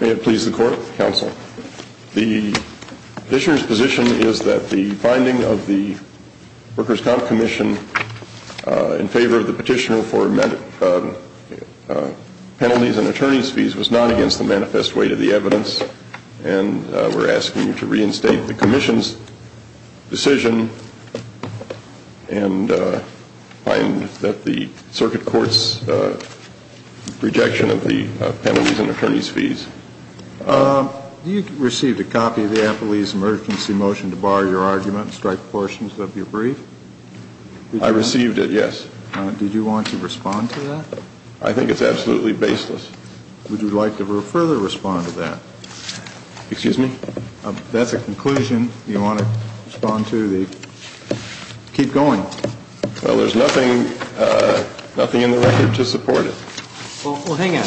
May it please the Court, Counsel. The petitioner's position is that the finding of the Workers' Compensation Commission in favor of the petitioner for penalties and attorney's fees was not against the manifest weight of the evidence, and we're asking you to reinstate the Commission's decision and find that the Circuit Court's rejection of the penalties and attorney's fees. Do you receive a copy of the Applebee's emergency motion to bar your argument and strike portions of your brief? I received it, yes. Did you want to respond to that? I think it's absolutely baseless. Would you like to further respond to that? Excuse me? That's a conclusion. Do you want to respond to the keep going? Well, there's nothing in the record to support it. Well, hang on.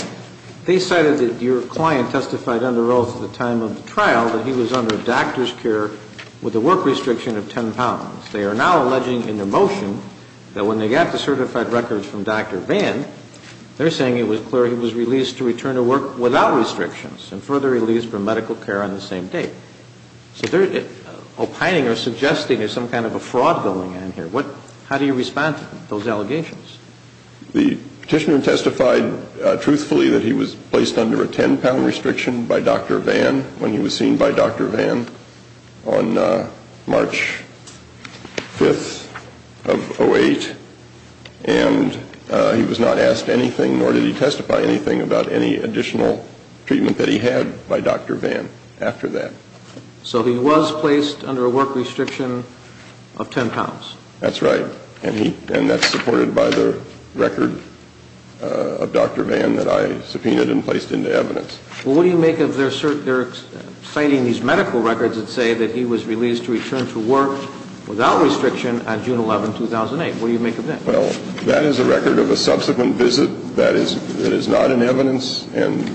They cited that your client testified under oath at the time of the trial that he was under doctor's care with a work restriction of 10 pounds. They are now alleging in their motion that when they got the certified records from Dr. Vann, they're saying it was released to return to work without restrictions and further released for medical care on the same day. So they're opining or suggesting there's some kind of a fraud going on here. How do you respond to those allegations? The petitioner testified truthfully that he was placed under a 10-pound restriction by Dr. Vann when he was seen by Dr. Vann on March 5th of 08, and he was not asked anything nor did he testify anything about any additional treatment that he had by Dr. Vann after that. So he was placed under a work restriction of 10 pounds? That's right. And that's supported by the record of Dr. Vann that I subpoenaed and placed into evidence. Well, what do you make of their citing these medical records that say that he was released to return to work without restriction on June 11, 2008? What do you make of that? Well, that is a record of a subsequent visit. That is not in evidence. And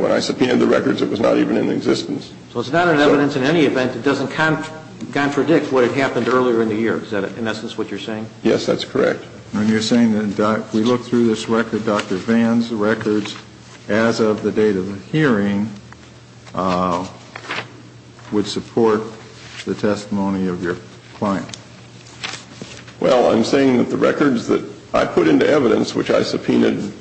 when I subpoenaed the records, it was not even in existence. So it's not in evidence in any event that doesn't contradict what had happened earlier in the year. Is that in essence what you're saying? Yes, that's correct. And you're saying that if we look through this record, Dr. Vann's records as of the date of the hearing would support the testimony of your client? Well, I'm saying that the records that I put into evidence which I subpoenaed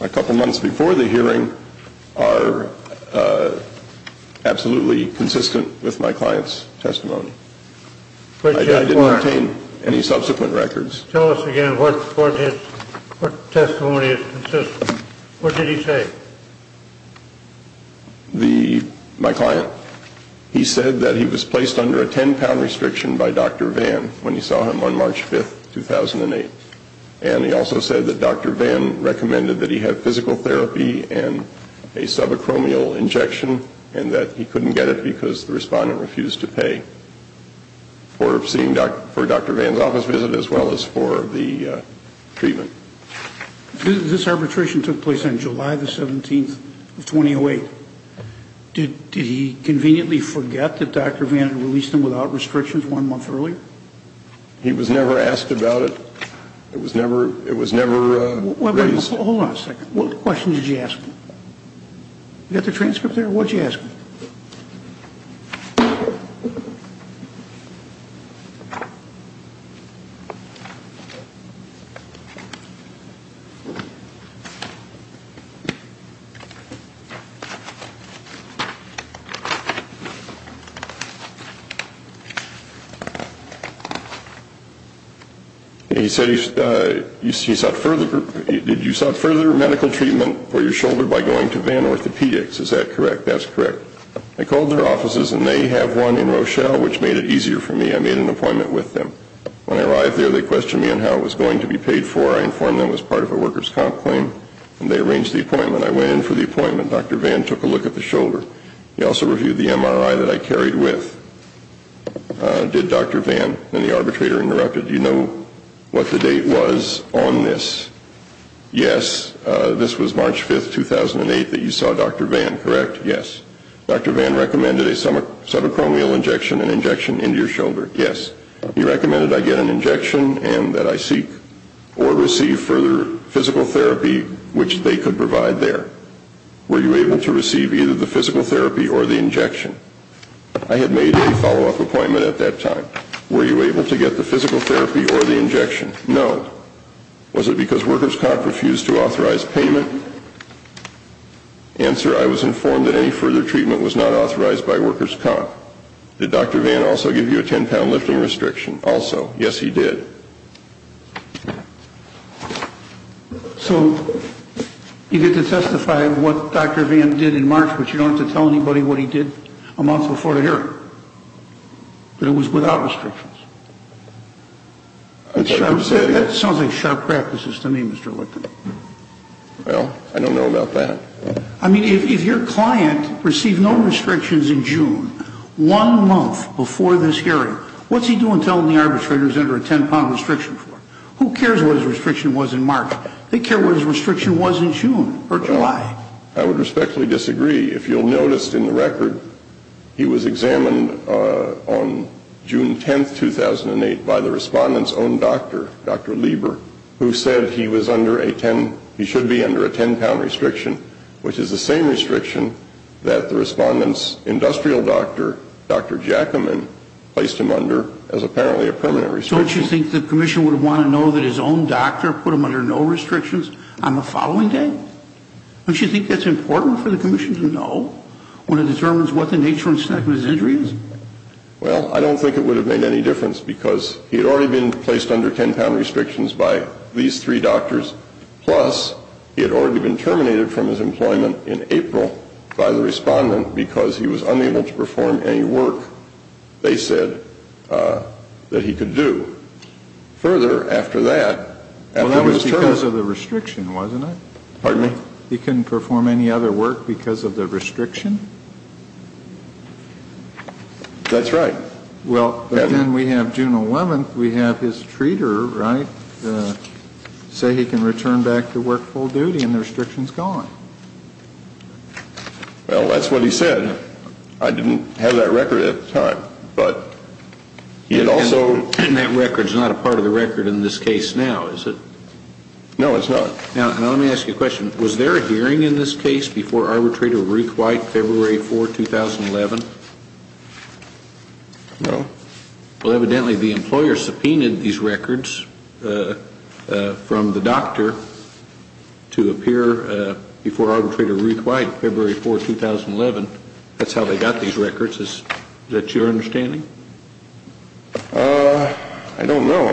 a couple months before the hearing are absolutely consistent with my client's testimony. I didn't obtain any subsequent records. Tell us again what testimony is consistent. What did he say? Well, my client, he said that he was placed under a 10-pound restriction by Dr. Vann when he saw him on March 5, 2008. And he also said that Dr. Vann recommended that he have physical therapy and a subacromial injection and that he couldn't get it because the respondent refused to pay for seeing Dr. Vann's office visit as well as for the treatment. This arbitration took place on July 17, 2008. Did he conveniently forget that Dr. Vann had released him without restrictions one month earlier? He was never asked about it. It was never raised. Hold on a second. What question did you ask me? You got the transcript there? What did you ask me? He said you sought further medical treatment for your shoulder by going to Vann Orthopedics. Is that correct? That's correct. I called their offices and they have one in Rochelle which made it easier for me. I made an appointment with them. When I arrived there, they questioned me on how it was going to be paid for. I informed them it was part of a worker's comp claim. They arranged the appointment. I went in for the appointment. Dr. Vann took a look at the shoulder. He also reviewed the MRI that I carried with. Did Dr. Vann and the arbitrator interrupt it? Do you know what the date was on this? Yes. This was March 5, 2008 that you saw Dr. Vann, correct? Yes. Dr. Vann recommended a subacromial injection and injection into your shoulder. Yes. He recommended I get an injection and that I seek or receive further physical therapy which they could provide there. Were you able to receive either the physical therapy or the injection? I had made a follow-up appointment at that time. Were you able to get the physical therapy or the injection? No. Was it because worker's comp refused to authorize payment? Answer, I was informed that any further treatment was not authorized by worker's comp. Did Dr. Vann also give you a 10-pound lifting restriction? Also, yes, he did. So you get to testify what Dr. Vann did in March, but you don't have to tell anybody what he did a month before the hearing. But it was without restrictions. That sounds like sharp practices to me, Mr. Whitman. Well, I don't know about that. I mean, if your client received no restrictions in June, one month before this hearing, what's he doing telling the arbitrators he's under a 10-pound restriction for? Who cares what his restriction was in March? They care what his restriction was in June or July. I would respectfully disagree. If you'll notice in the record, he was examined on June 10, 2008, by the Respondent's own doctor, Dr. Lieber, who said he was under a 10, he should be under a 10-pound restriction, which is the same restriction that the Respondent's industrial doctor, Dr. Jackaman, placed him under as apparently a permanent restriction. Don't you think the Commission would want to know that his own doctor put him under no restrictions on the following day? Don't you think that's important for the Commission to know when it determines what the nature and extent of his injury is? Well, I don't think it would have made any difference because he had already been placed under 10-pound restrictions by these three doctors, plus he had already been terminated from his employment in April by the Respondent because he was unable to perform any work they said that he could do. Further, after that, after his term… Well, that was because of the restriction, wasn't it? Pardon me? He couldn't perform any other work because of the restriction? That's right. Well, but then we have June 11th, we have his treater, right, say he can return back to work full duty and the restriction's gone. Well, that's what he said. I didn't have that record at the time, but he had also… And that record's not a part of the record in this case now, is it? No, it's not. Now, let me ask you a question. Was there a hearing in this case before Arbitrator Ruth White, February 4, 2011? No. Well, evidently the employer subpoenaed these records from the doctor to appear before Arbitrator Ruth White, February 4, 2011. That's how they got these records. Is that your understanding? I don't know.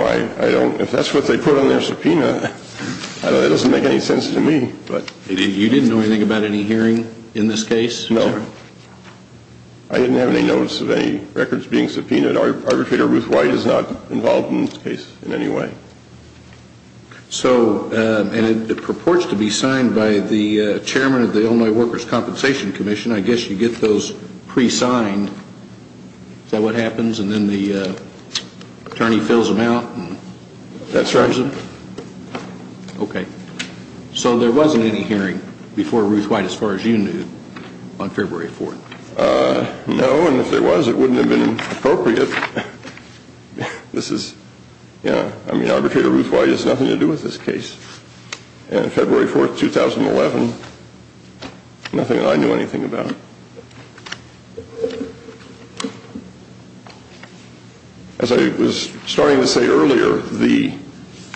If that's what they put on their subpoena, it doesn't make any sense to me. You didn't know anything about any hearing in this case? No. I didn't have any notice of any records being subpoenaed. Arbitrator Ruth White is not involved in this case in any way. So, and it purports to be signed by the chairman of the Illinois Workers' Compensation Commission. I guess you get those pre-signed. Is that what happens? And then the attorney fills them out? That's right. Okay. So there wasn't any hearing before Ruth White, as far as you knew, on February 4? No. And if there was, it wouldn't have been appropriate. This is, you know, I mean, Arbitrator Ruth White has nothing to do with this case. And February 4, 2011, nothing that I knew anything about. As I was starting to say earlier, the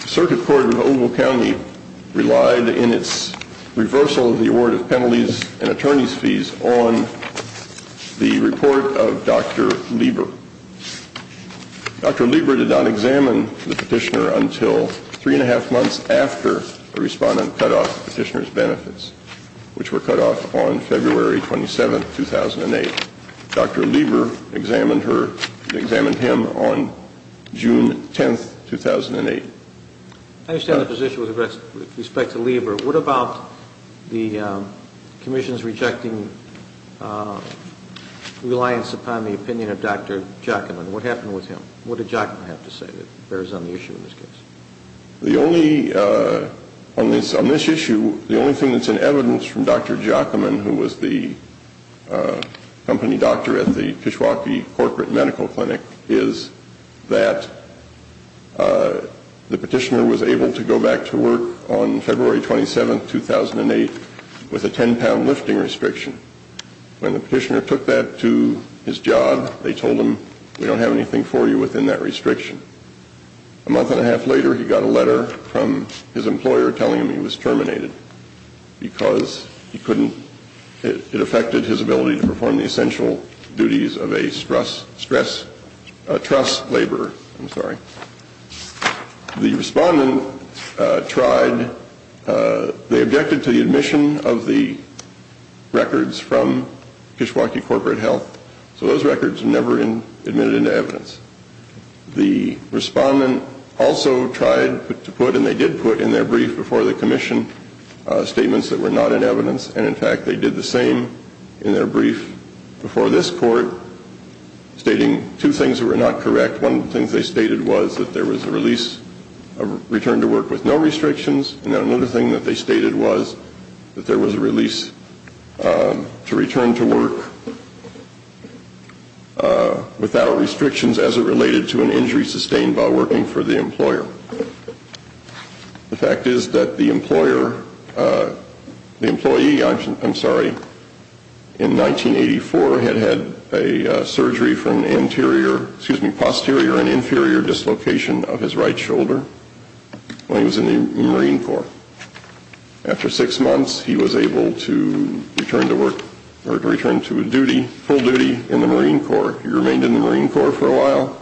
Circuit Court of Ogle County relied in its reversal of the award of penalties and attorney's fees on the report of Dr. Lieber. Dr. Lieber did not examine the petitioner until three and a half months after the respondent cut off the petitioner's benefits, which were cut off on February 27, 2008. Dr. Lieber examined him on June 10, 2008. I understand the position with respect to Lieber. What about the commission's rejecting reliance upon the opinion of Dr. Jockaman? What happened with him? What did Jockaman have to say that bears on the issue in this case? The only, on this issue, the only thing that's in evidence from Dr. Jockaman, who was the company doctor at the Kishwaukee Corporate Medical Clinic, is that the petitioner was able to go back to work on February 27, 2008, with a 10-pound lifting restriction. When the petitioner took that to his job, they told him, we don't have anything for you within that restriction. A month and a half later, he got a letter from his employer telling him he was terminated, because he couldn't, it affected his ability to perform the essential duties of a stress, stress, trust laborer, I'm sorry. The respondent tried, they objected to the admission of the records from Kishwaukee Corporate Health, so those records were never admitted into evidence. The respondent also tried to put, and they did put in their brief before the commission, statements that were not in evidence, and in fact they did the same in their brief before this court, stating two things that were not correct. One of the things they stated was that there was a release, a return to work with no restrictions, and another thing that they stated was that there was a release to return to work without restrictions as it related to an injury sustained by working for the employer. The fact is that the employer, the employee, I'm sorry, in 1984 had had a surgery for an anterior, excuse me, a posterior and inferior dislocation of his right shoulder when he was in the Marine Corps. After six months, he was able to return to work, or to return to duty, full duty in the Marine Corps. He remained in the Marine Corps for a while,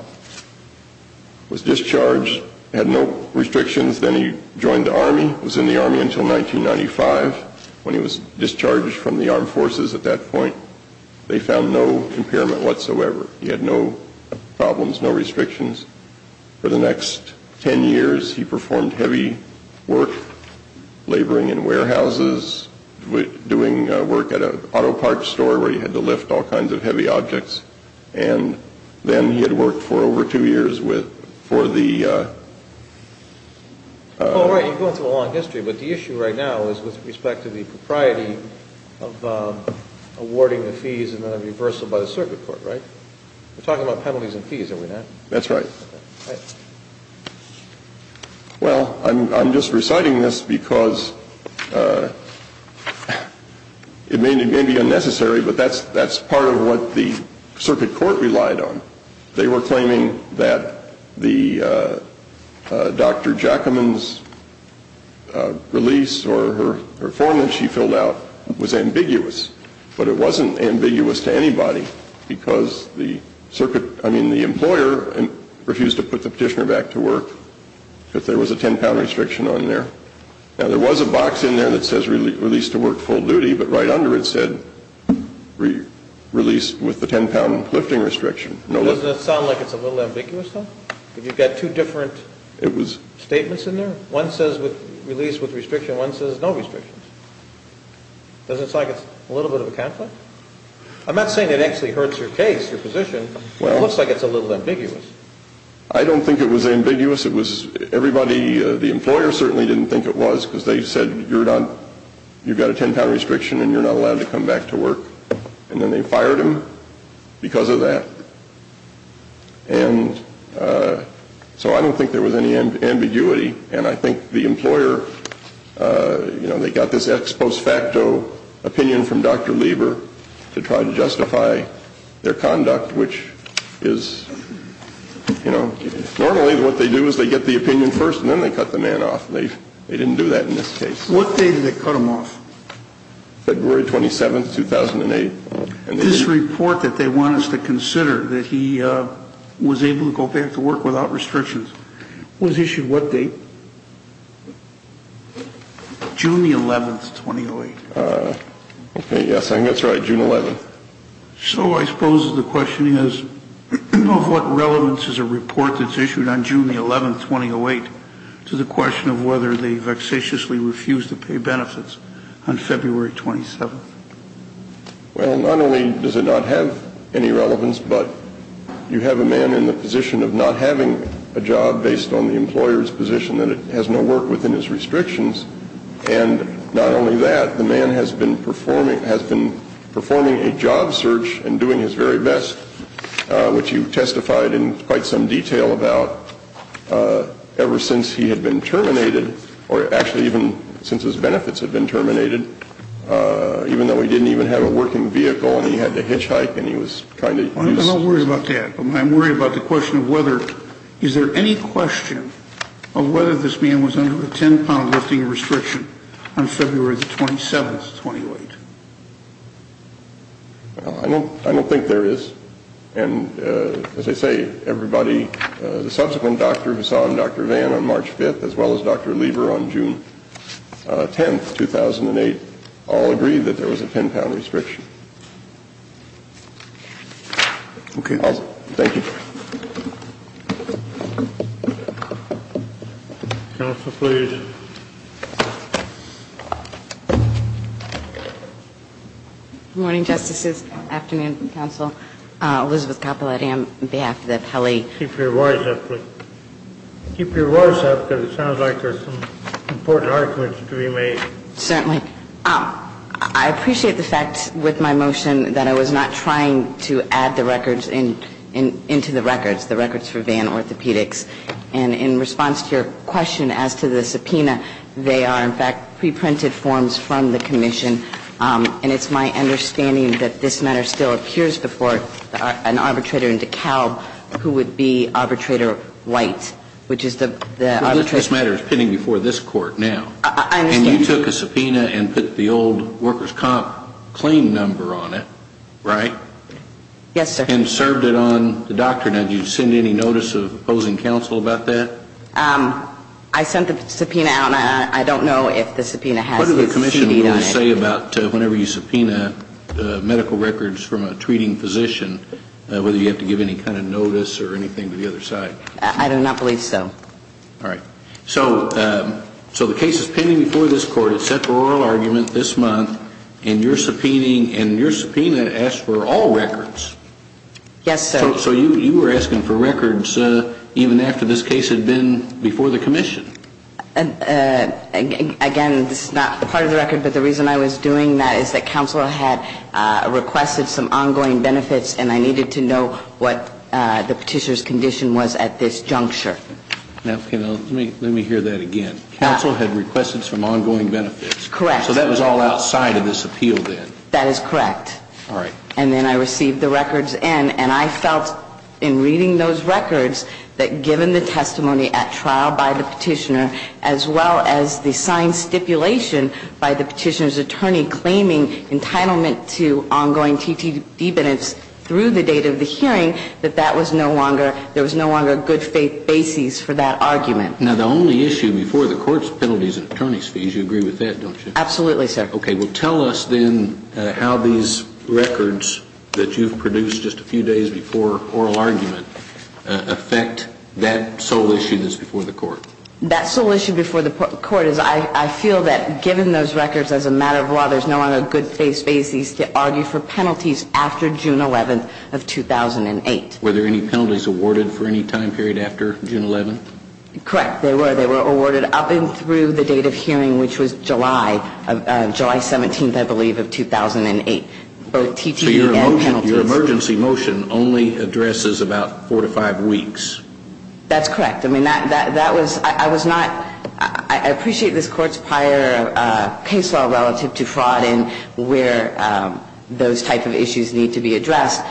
was discharged, had no restrictions, then he joined the Army, was in the Army until 1995. When he was discharged from the Armed Forces at that point, they found no impairment whatsoever. He had no problems, no restrictions. For the next ten years, he performed heavy work, laboring in warehouses, doing work at an auto parts store where he had to lift all kinds of heavy objects, and then he had worked for over two years with, for the... Oh, right, you're going through a long history, but the issue right now is with respect to the propriety of awarding the fees and then a reversal by the Circuit Court, right? We're talking about penalties and fees, are we not? That's right. Well, I'm just reciting this because it may be unnecessary, but that's part of what the Circuit Court relied on. They were claiming that Dr. Jackaman's release or her form that she filled out was ambiguous, but it wasn't ambiguous to anybody because the circuit, I mean, the employer refused to put the petitioner back to work because there was a ten-pound restriction on there. Now, there was a box in there that says release to work full duty, but right under it said release with the ten-pound lifting restriction. Doesn't it sound like it's a little ambiguous, though? If you've got two different statements in there? One says release with restriction, one says no restrictions. Doesn't it sound like it's a little bit of a conflict? I'm not saying it actually hurts your case, your position, but it looks like it's a little ambiguous. I don't think it was ambiguous. Everybody, the employer certainly didn't think it was because they said you've got a ten-pound restriction and you're not allowed to come back to work. And then they fired him because of that. And so I don't think there was any ambiguity. And I think the employer, you know, they got this ex post facto opinion from Dr. Lieber to try to justify their conduct, which is, you know, normally what they do is they get the opinion first and then they cut the man off. They didn't do that in this case. What date did they cut him off? February 27th, 2008. This report that they want us to consider, that he was able to go back to work without restrictions, was issued what date? June the 11th, 2008. Okay, yes, I think that's right, June 11th. So I suppose the question is, of what relevance is a report that's issued on June the 11th, 2008, to the question of whether they vexatiously refused to pay benefits on February 27th? Well, not only does it not have any relevance, but you have a man in the position of not having a job based on the employer's position that it has no work within his restrictions. And not only that, the man has been performing a job search and doing his very best, which you testified in quite some detail about, ever since he had been terminated, or actually even since his benefits had been terminated, even though he didn't even have a working vehicle and he had to hitchhike and he was kind of... I'm not worried about that. I'm worried about the question of whether, is there any question of whether this man was under a 10-pound lifting restriction on February the 27th, 2008? Well, I don't think there is. And as I say, everybody, the subsequent doctor who saw him, Dr. Vann, on March 5th, as well as Dr. Lieber on June 10th, 2008, all agreed that there was a 10-pound restriction. Okay. Thank you. Counsel, please. Good morning, Justices. Afternoon, Counsel. Elizabeth Capoletti on behalf of the appellee. Keep your voice up, please. Keep your voice up because it sounds like there's some important arguments to be made. Certainly. I appreciate the fact with my motion that I was not trying to add the records into the records, the records for Vann Orthopedics. And in response to your question as to the subpoena, they are, in fact, pre-printed forms from the commission. And it's my understanding that this matter still appears before an arbitrator in DeKalb who would be Arbitrator White, which is the... This matter is pending before this court now. I understand. And you took a subpoena and put the old workers' comp claim number on it, right? Yes, sir. And served it on the doctrine. Now, did you send any notice of opposing counsel about that? I sent the subpoena out, and I don't know if the subpoena has the CD on it. What did the commission rule say about whenever you subpoena medical records from a treating physician, whether you have to give any kind of notice or anything to the other side? I do not believe so. All right. So the case is pending before this court. It's set for oral argument this month, and your subpoena asks for all records. Yes, sir. So you were asking for records even after this case had been before the commission. Again, this is not part of the record, but the reason I was doing that is that counsel had requested some ongoing benefits, and I needed to know what the petitioner's condition was at this juncture. Now, let me hear that again. Counsel had requested some ongoing benefits. Correct. So that was all outside of this appeal then. That is correct. All right. And then I received the records in, and I felt in reading those records that given the testimony at trial by the petitioner, as well as the signed stipulation by the petitioner's attorney claiming entitlement to ongoing TTD benefits through the date of the hearing, that there was no longer a good faith basis for that argument. Now, the only issue before the court's penalty is an attorney's fees. You agree with that, don't you? Absolutely, sir. Okay. Well, tell us then how these records that you've produced just a few days before oral argument affect that sole issue that's before the court. That sole issue before the court is I feel that given those records as a matter of law, there's no longer a good faith basis to argue for penalties after June 11th of 2008. Were there any penalties awarded for any time period after June 11th? Correct. There were. They were awarded up and through the date of hearing, which was July 17th, I believe, of 2008, both TTD and penalties. So your emergency motion only addresses about four to five weeks. That's correct. I mean, that was ñ I was not ñ I appreciate this Court's prior case law relative to fraud and where those type of issues need to be addressed.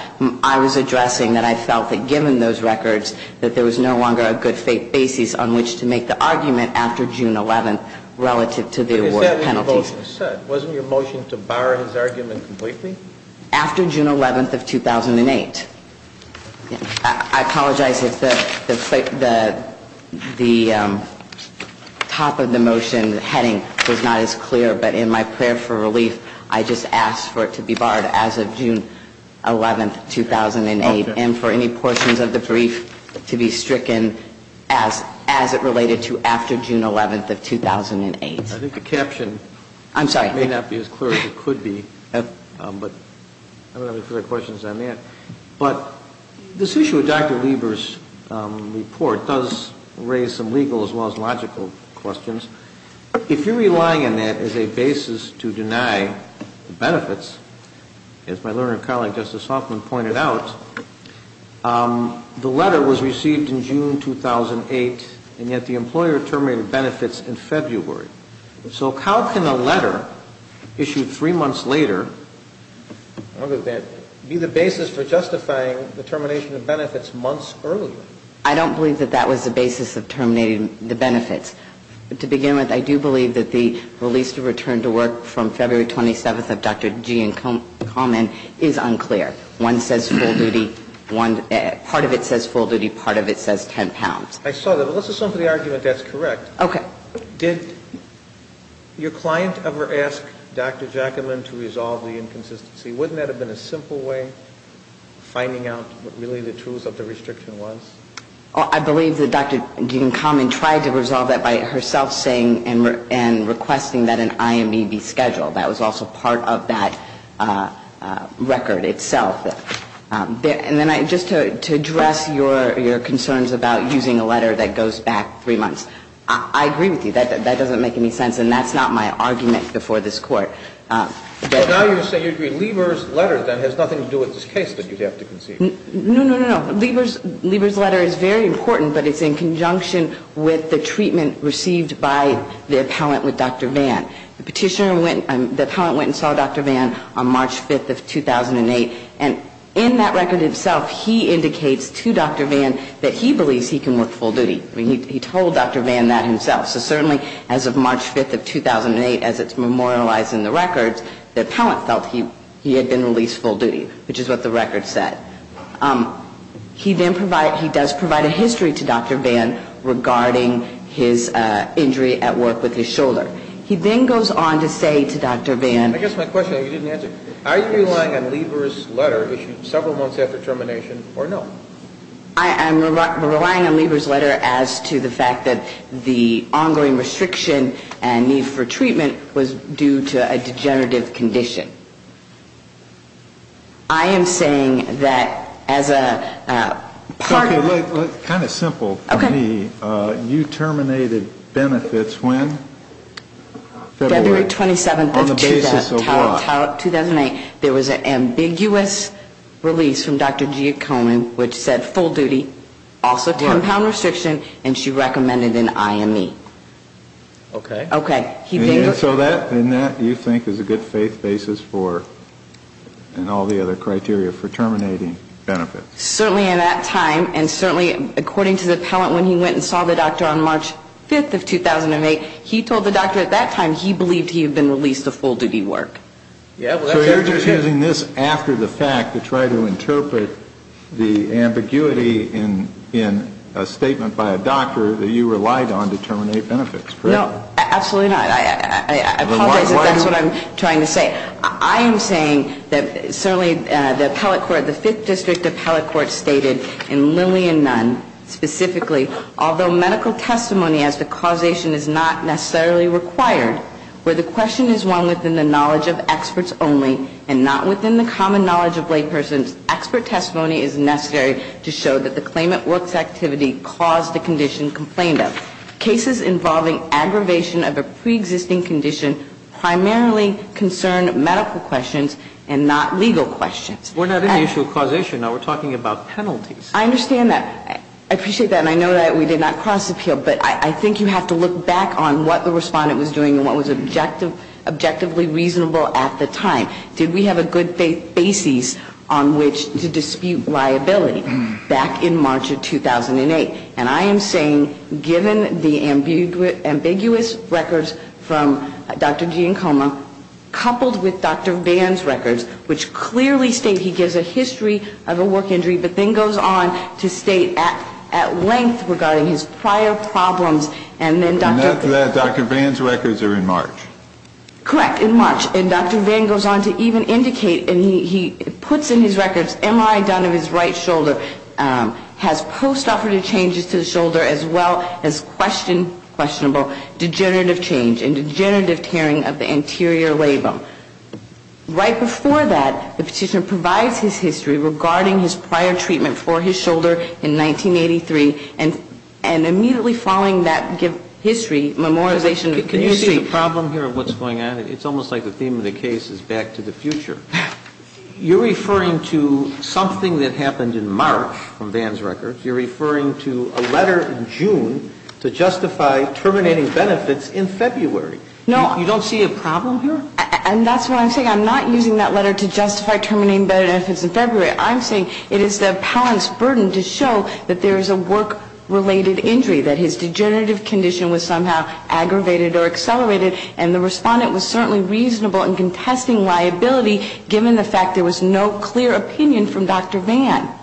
I was addressing that I felt that given those records that there was no longer a good faith basis on which to make the argument after June 11th relative to the award of penalties. But is that what your motion said? Wasn't your motion to bar his argument completely? After June 11th of 2008. I apologize if the top of the motion heading was not as clear. But in my prayer for relief, I just asked for it to be barred as of June 11th, 2008, and for any portions of the brief to be stricken as it related to after June 11th of 2008. I think the caption may not be as clear as it could be. I don't have any further questions on that. But this issue with Dr. Lieber's report does raise some legal as well as logical questions. If you're relying on that as a basis to deny benefits, as my learned colleague Justice Hoffman pointed out, the letter was received in June 2008, and yet the employer terminated benefits in February. So how can a letter issued three months later be the basis for justifying the termination of benefits months earlier? I don't believe that that was the basis of terminating the benefits. To begin with, I do believe that the release to return to work from February 27th of Dr. G. and Coleman is unclear. One says full duty. Part of it says full duty. Part of it says 10 pounds. I saw that. But let's assume for the argument that's correct. Okay. Did your client ever ask Dr. Jackman to resolve the inconsistency? Wouldn't that have been a simple way of finding out what really the truth of the restriction was? I believe that Dr. G. and Coleman tried to resolve that by herself saying and requesting that an IMB be scheduled. That was also part of that record itself. And then just to address your concerns about using a letter that goes back three months. I agree with you. That doesn't make any sense. And that's not my argument before this Court. So now you're saying you agree Lieber's letter then has nothing to do with this case that you have to concede. No, no, no, no. Lieber's letter is very important, but it's in conjunction with the treatment received by the appellant with Dr. Vann. The petitioner went, the appellant went and saw Dr. Vann on March 5th of 2008. And in that record itself, he indicates to Dr. Vann that he believes he can work full duty. I mean, he told Dr. Vann that himself. So certainly as of March 5th of 2008, as it's memorialized in the records, the appellant felt he had been released full duty, which is what the record said. He then provided, he does provide a history to Dr. Vann regarding his injury at work with his shoulder. He then goes on to say to Dr. Vann. I guess my question that you didn't answer, are you relying on Lieber's letter issued several months after termination or no? I'm relying on Lieber's letter as to the fact that the ongoing restriction and need for treatment was due to a degenerative condition. I am saying that as a part of the... Okay, look, kind of simple for me. Okay. You terminated benefits when? February 27th of 2008. On the basis of what? February 27th of 2008, there was an ambiguous release from Dr. G. Cohen, which said full duty, also 10-pound restriction, and she recommended an IME. Okay. Okay. And so that, in that, you think is a good basis for, and all the other criteria for terminating benefits. Certainly in that time, and certainly according to the appellant when he went and saw the doctor on March 5th of 2008, he told the doctor at that time he believed he had been released of full duty work. So you're just using this after the fact to try to interpret the ambiguity in a statement by a doctor that you relied on to terminate benefits, correct? No, absolutely not. I apologize if that's what I'm trying to say. I am saying that certainly the appellate court, the Fifth District appellate court stated, and Lillian Nunn specifically, although medical testimony as to causation is not necessarily required, where the question is one within the knowledge of experts only and not within the common knowledge of lay persons, expert testimony is necessary to show that the claimant works activity caused the condition complained of. Cases involving aggravation of a preexisting condition primarily concern medical questions and not legal questions. We're not in the issue of causation, though. We're talking about penalties. I understand that. I appreciate that. And I know that we did not cross appeal, but I think you have to look back on what the respondent was doing and what was objectively reasonable at the time. Did we have a good basis on which to dispute liability back in March of 2008? And I am saying given the ambiguous records from Dr. Giancomo coupled with Dr. Vann's records, which clearly state he gives a history of a work injury, but then goes on to state at length regarding his prior problems and then Dr. Vann's records are in March. Correct, in March. And Dr. Vann goes on to even indicate and he puts in his records MRI done of his right shoulder, has post-operative changes to the shoulder as well as questionable degenerative change and degenerative tearing of the anterior labrum. Right before that, the Petitioner provides his history regarding his prior treatment for his shoulder in 1983, and immediately following that history, memorization of history. Can you see the problem here of what's going on? It's almost like the theme of the case is back to the future. You're referring to something that happened in March from Vann's records. You're referring to a letter in June to justify terminating benefits in February. No. You don't see a problem here? And that's what I'm saying. I'm not using that letter to justify terminating benefits in February. I'm saying it is the appellant's burden to show that there is a work-related injury, that his degenerative condition was somehow aggravated or accelerated, and the respondent was certainly reasonable in contesting liability given the fact there was no clear opinion from Dr. Vann.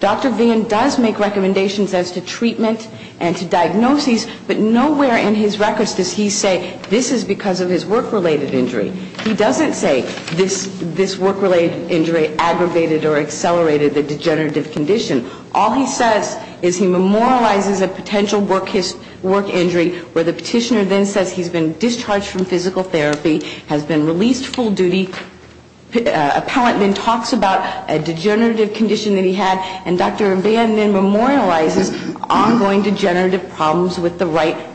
Dr. Vann does make recommendations as to treatment and to diagnoses, but nowhere in his records does he say this is because of his work-related injury. He doesn't say this work-related injury aggravated or accelerated the degenerative condition. All he says is he memorializes a potential work injury where the Petitioner then says he's been discharged from physical therapy, has been released full duty. Appellant then talks about a degenerative condition that he had, and Dr. Vann then memorializes ongoing degenerative problems with the right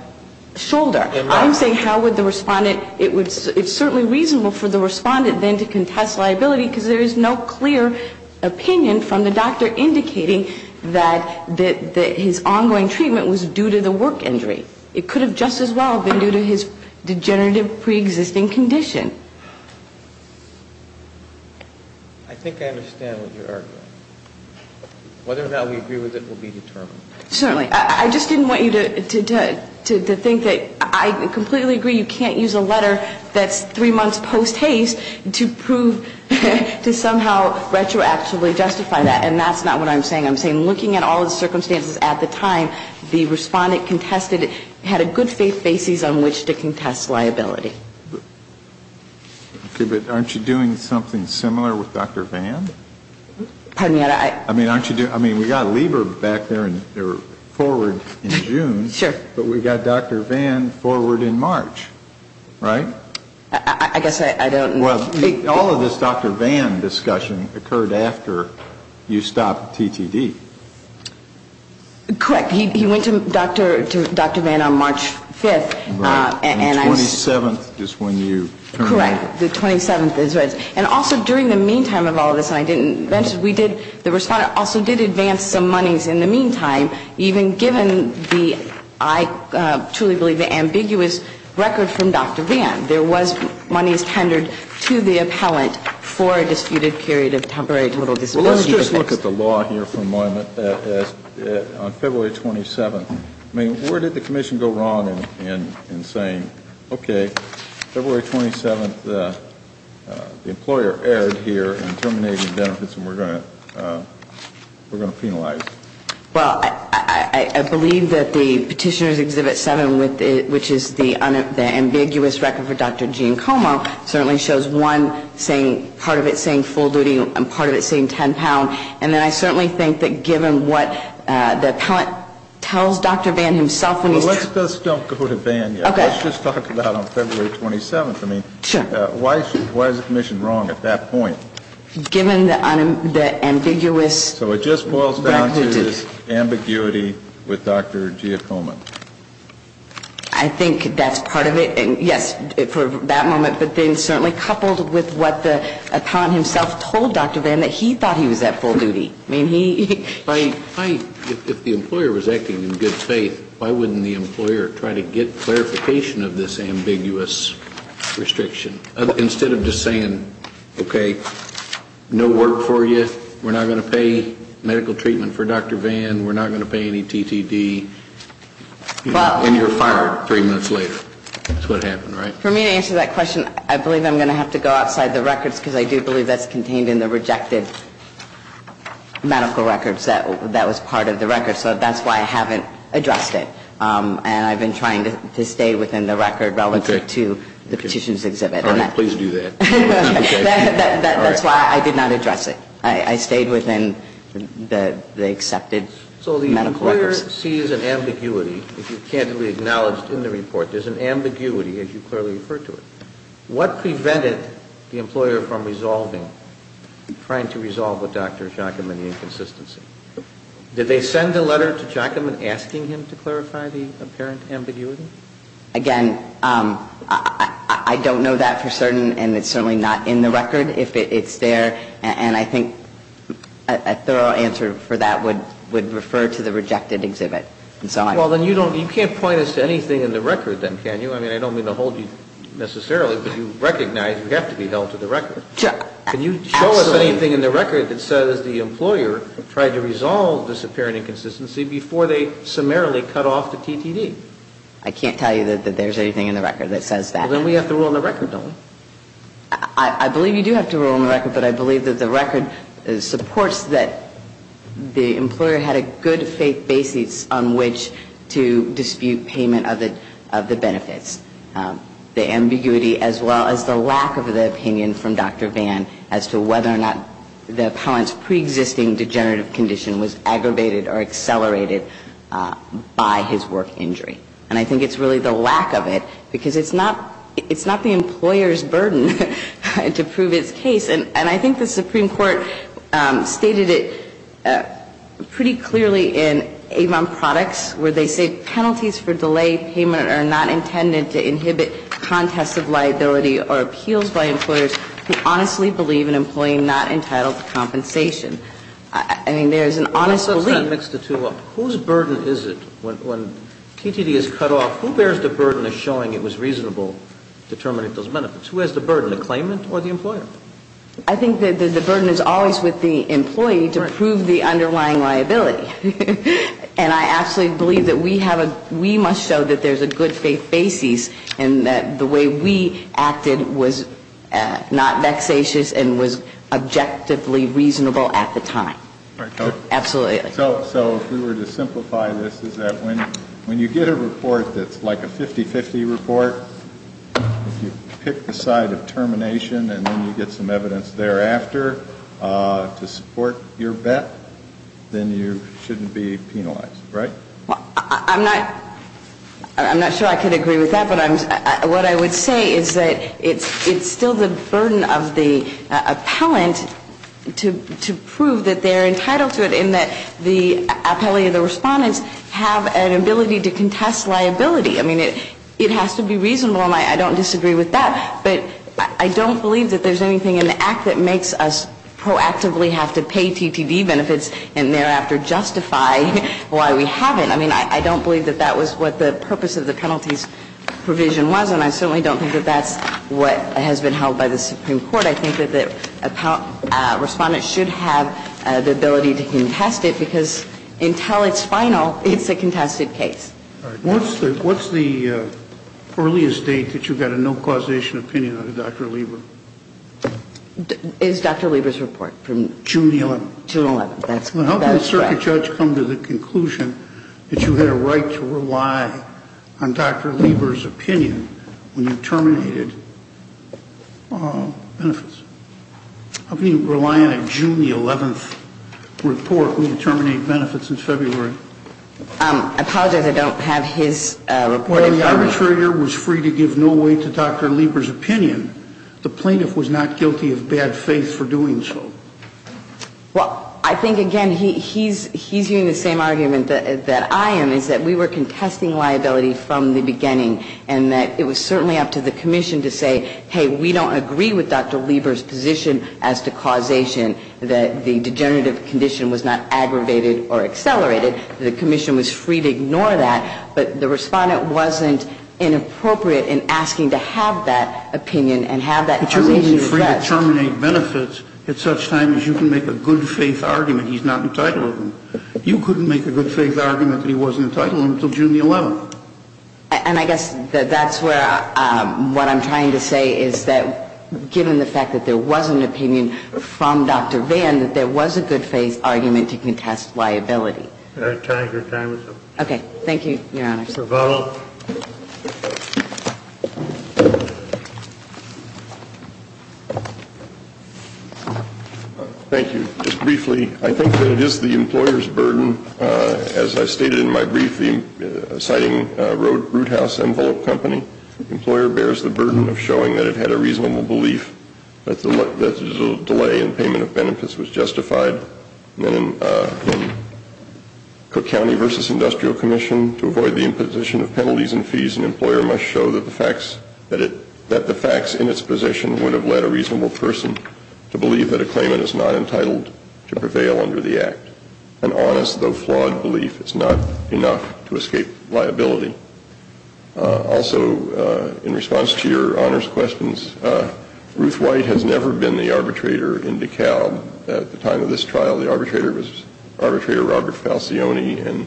shoulder. I'm saying how would the respondent ‑‑ it's certainly reasonable for the respondent then to contest liability because there is no clear opinion from the doctor indicating that his ongoing treatment was due to the work injury. It could have just as well been due to his degenerative preexisting condition. I think I understand what you're arguing. Whether or not we agree with it will be determined. Certainly. I just didn't want you to think that ‑‑ I completely agree you can't use a letter that's three months post-haste to prove, to somehow retroactively justify that, and that's not what I'm saying. I'm saying looking at all the circumstances at the time, the respondent contested, had a good faith basis on which to contest liability. Okay. But aren't you doing something similar with Dr. Vann? Pardon me? I mean, aren't you doing ‑‑ I mean, we got Lieber back there and forward in June. Sure. But we got Dr. Vann forward in March, right? I guess I don't ‑‑ Well, all of this Dr. Vann discussion occurred after you stopped TTD. Correct. He went to Dr. Vann on March 5th. Right. And the 27th is when you ‑‑ Correct. The 27th is, right. And also during the meantime of all this, and I didn't mention, we did, the respondent also did advance some monies in the meantime, even given the, I truly believe the ambiguous record from Dr. Vann. There was monies tendered to the appellant for a disputed period of temporary total disability. Well, let's just look at the law here for a moment. On February 27th, I mean, where did the commission go wrong in saying, okay, February 27th, the employer erred here in terminating benefits and we're going to penalize? Well, I believe that the Petitioner's Exhibit 7, which is the ambiguous record for Dr. Gene Como, certainly shows one saying, part of it saying full duty and part of it saying 10 pound. And then I certainly think that given what the appellant tells Dr. Vann himself. Let's just don't go to Vann yet. Okay. Let's just talk about on February 27th. Sure. I mean, why is the commission wrong at that point? Given the ambiguous record. So it just boils down to this ambiguity with Dr. Gene Como. I think that's part of it. Yes, for that moment. But then certainly coupled with what the appellant himself told Dr. Vann that he thought he was at full duty. I mean, he. If the employer was acting in good faith, why wouldn't the employer try to get clarification of this ambiguous restriction? Instead of just saying, okay, no work for you. We're not going to pay medical treatment for Dr. Vann. We're not going to pay any TTD. And you're fired. Three minutes later. That's what happened, right? For me to answer that question, I believe I'm going to have to go outside the records. Because I do believe that's contained in the rejected medical records. That was part of the record. So that's why I haven't addressed it. And I've been trying to stay within the record relative to the petitions exhibit. All right. Please do that. That's why I did not address it. I stayed within the accepted medical records. So the employer sees an ambiguity, as you candidly acknowledged in the report. There's an ambiguity, as you clearly referred to it. What prevented the employer from resolving, trying to resolve with Dr. Jockaman the inconsistency? Did they send a letter to Jockaman asking him to clarify the apparent ambiguity? Again, I don't know that for certain, and it's certainly not in the record. If it's there, and I think a thorough answer for that would refer to the rejected exhibit. Well, then you can't point us to anything in the record then, can you? I mean, I don't mean to hold you necessarily, but you recognize we have to be held to the record. Can you show us anything in the record that says the employer tried to resolve this apparent inconsistency before they summarily cut off the TTD? I can't tell you that there's anything in the record that says that. Well, then we have to rule in the record, don't we? I believe you do have to rule in the record, but I believe that the record supports that the employer had a good faith basis on which to dispute payment of the benefits. The ambiguity as well as the lack of the opinion from Dr. Vann as to whether or not the apparent preexisting degenerative condition was aggravated or accelerated by his work injury. And I think it's really the lack of it, because it's not the employer's burden to prove its case. And I think the Supreme Court stated it pretty clearly in Avon Products where they say penalties for delayed payment are not intended to inhibit contest of liability or appeals by employers who honestly believe an employee not entitled to compensation. I mean, there's an honest belief. Let me mix the two up. Whose burden is it when TTD is cut off, who bears the burden of showing it was reasonable determining those benefits? Who has the burden, the claimant or the employer? I think that the burden is always with the employee to prove the underlying liability. And I absolutely believe that we have a we must show that there's a good faith basis and that the way we acted was not vexatious and was objectively reasonable at the time. Absolutely. So if we were to simplify this, is that when you get a report that's like a 50-50 report, if you pick the side of termination and then you get some evidence thereafter to support your bet, then you shouldn't be penalized, right? I'm not sure I can agree with that, but what I would say is that it's still the burden of the appellant to prove that they're entitled to it and that the appellee or the respondents have an ability to contest liability. I mean, it has to be reasonable, and I don't disagree with that. But I don't believe that there's anything in the Act that makes us proactively have to pay TTD benefits and thereafter justify why we haven't. I mean, I don't believe that that was what the purpose of the penalties provision was, and I certainly don't think that that's what has been held by the Supreme Court. But I think that the respondent should have the ability to contest it because until it's final, it's a contested case. What's the earliest date that you got a no causation opinion on Dr. Lieber? It's Dr. Lieber's report from June 11. June 11. That's correct. How can a judge come to the conclusion that you had a right to rely on Dr. Lieber's opinion when you terminated benefits? How can you rely on a June 11 report when you terminate benefits in February? I apologize. I don't have his report. When the arbitrator was free to give no weight to Dr. Lieber's opinion, the plaintiff was not guilty of bad faith for doing so. Well, I think, again, he's using the same argument that I am, is that we were contesting liability from the beginning and that it was certainly up to the commission to say, hey, we don't agree with Dr. Lieber's position as to causation, that the degenerative condition was not aggravated or accelerated. The commission was free to ignore that, but the respondent wasn't inappropriate in asking to have that opinion and have that causation expressed. But you're only free to terminate benefits at such time as you can make a good faith argument he's not entitled to. You couldn't make a good faith argument that he wasn't entitled to until June 11. And I guess that's where what I'm trying to say is that, given the fact that there was an opinion from Dr. Vann, that there was a good faith argument to contest liability. Can I take your time? Okay. Thank you, Your Honor. Thank you, Mr. Vottle. Thank you. Just briefly, I think that it is the employer's burden, as I stated in my brief, citing Roothouse Envelope Company, the employer bears the burden of showing that it had a reasonable belief that the delay in payment of benefits was justified. And in Cook County v. Industrial Commission, to avoid the imposition of penalties and fees, an employer must show that the facts in its position would have led a reasonable person to believe that a claimant is not entitled to prevail under the Act. An honest, though flawed, belief is not enough to escape liability. Also, in response to Your Honor's questions, Ruth White has never been the arbitrator in DeKalb. At the time of this trial, the arbitrator was Arbitrator Robert Falcioni, and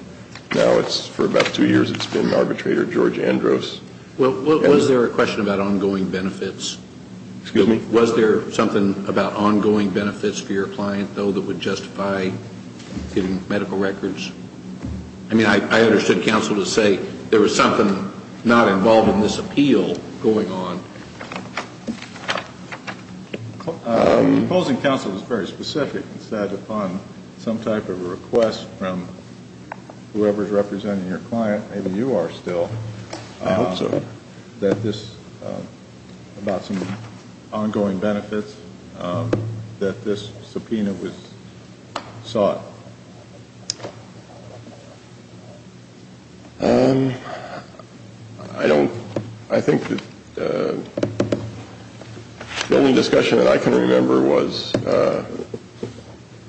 now it's, for about two years, it's been Arbitrator George Andros. Well, was there a question about ongoing benefits? Excuse me? Was there something about ongoing benefits for your client, though, that would justify getting medical records? I mean, I understood counsel to say there was something not involved in this appeal going on. The opposing counsel was very specific and said upon some type of a request from whoever is representing your client, maybe you are still, that this, about some ongoing benefits, that this subpoena was sought. I don't, I think that the only discussion that I can remember was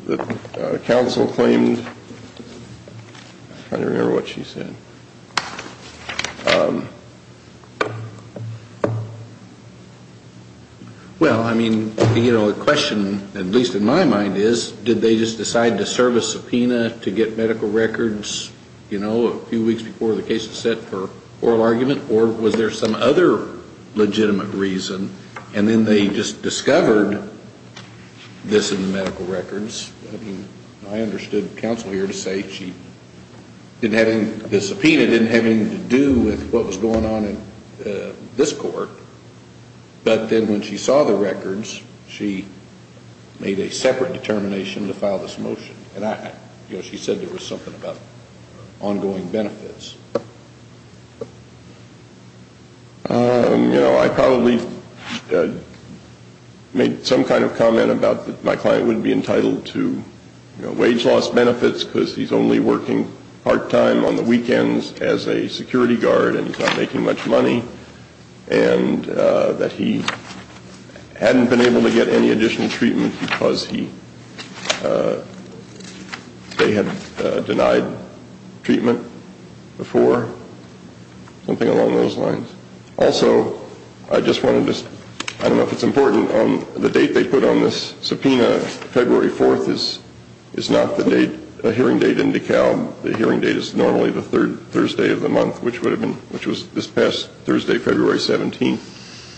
that counsel claimed, I can't remember what she said. Well, I mean, you know, the question, at least in my mind, is, did they just decide to serve a subpoena to get medical records, you know, a few weeks before the case is set for oral argument, or was there some other legitimate reason, and then they just discovered this in the medical records? I mean, I understood counsel here to say she didn't have any, the subpoena didn't have anything to do with what was going on in this court, but then when she saw the records, she made a separate determination to file this motion. And I, you know, she said there was something about ongoing benefits. You know, I probably made some kind of comment about that my client wouldn't be entitled to, you know, as a security guard, and he's not making much money, and that he hadn't been able to get any additional treatment because he, they had denied treatment before, something along those lines. Also, I just wanted to, I don't know if it's important, the date they put on this subpoena, February 4th is not the date, the hearing date in DeKalb. The hearing date is normally the third Thursday of the month, which would have been, which was this past Thursday, February 17th.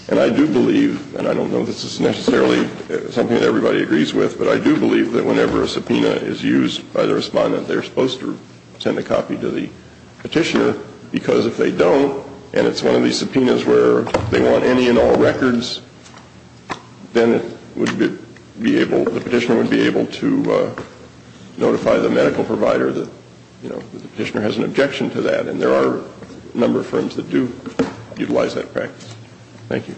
And I do believe, and I don't know this is necessarily something that everybody agrees with, but I do believe that whenever a subpoena is used by the respondent, they're supposed to send a copy to the petitioner, because if they don't, and it's one of these subpoenas where they want any and all records, then it would be able, the petitioner would be able to notify the medical provider that, you know, the petitioner has an objection to that, and there are a number of firms that do utilize that practice. Thank you.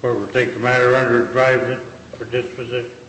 Court will take the matter under advisement for disposition.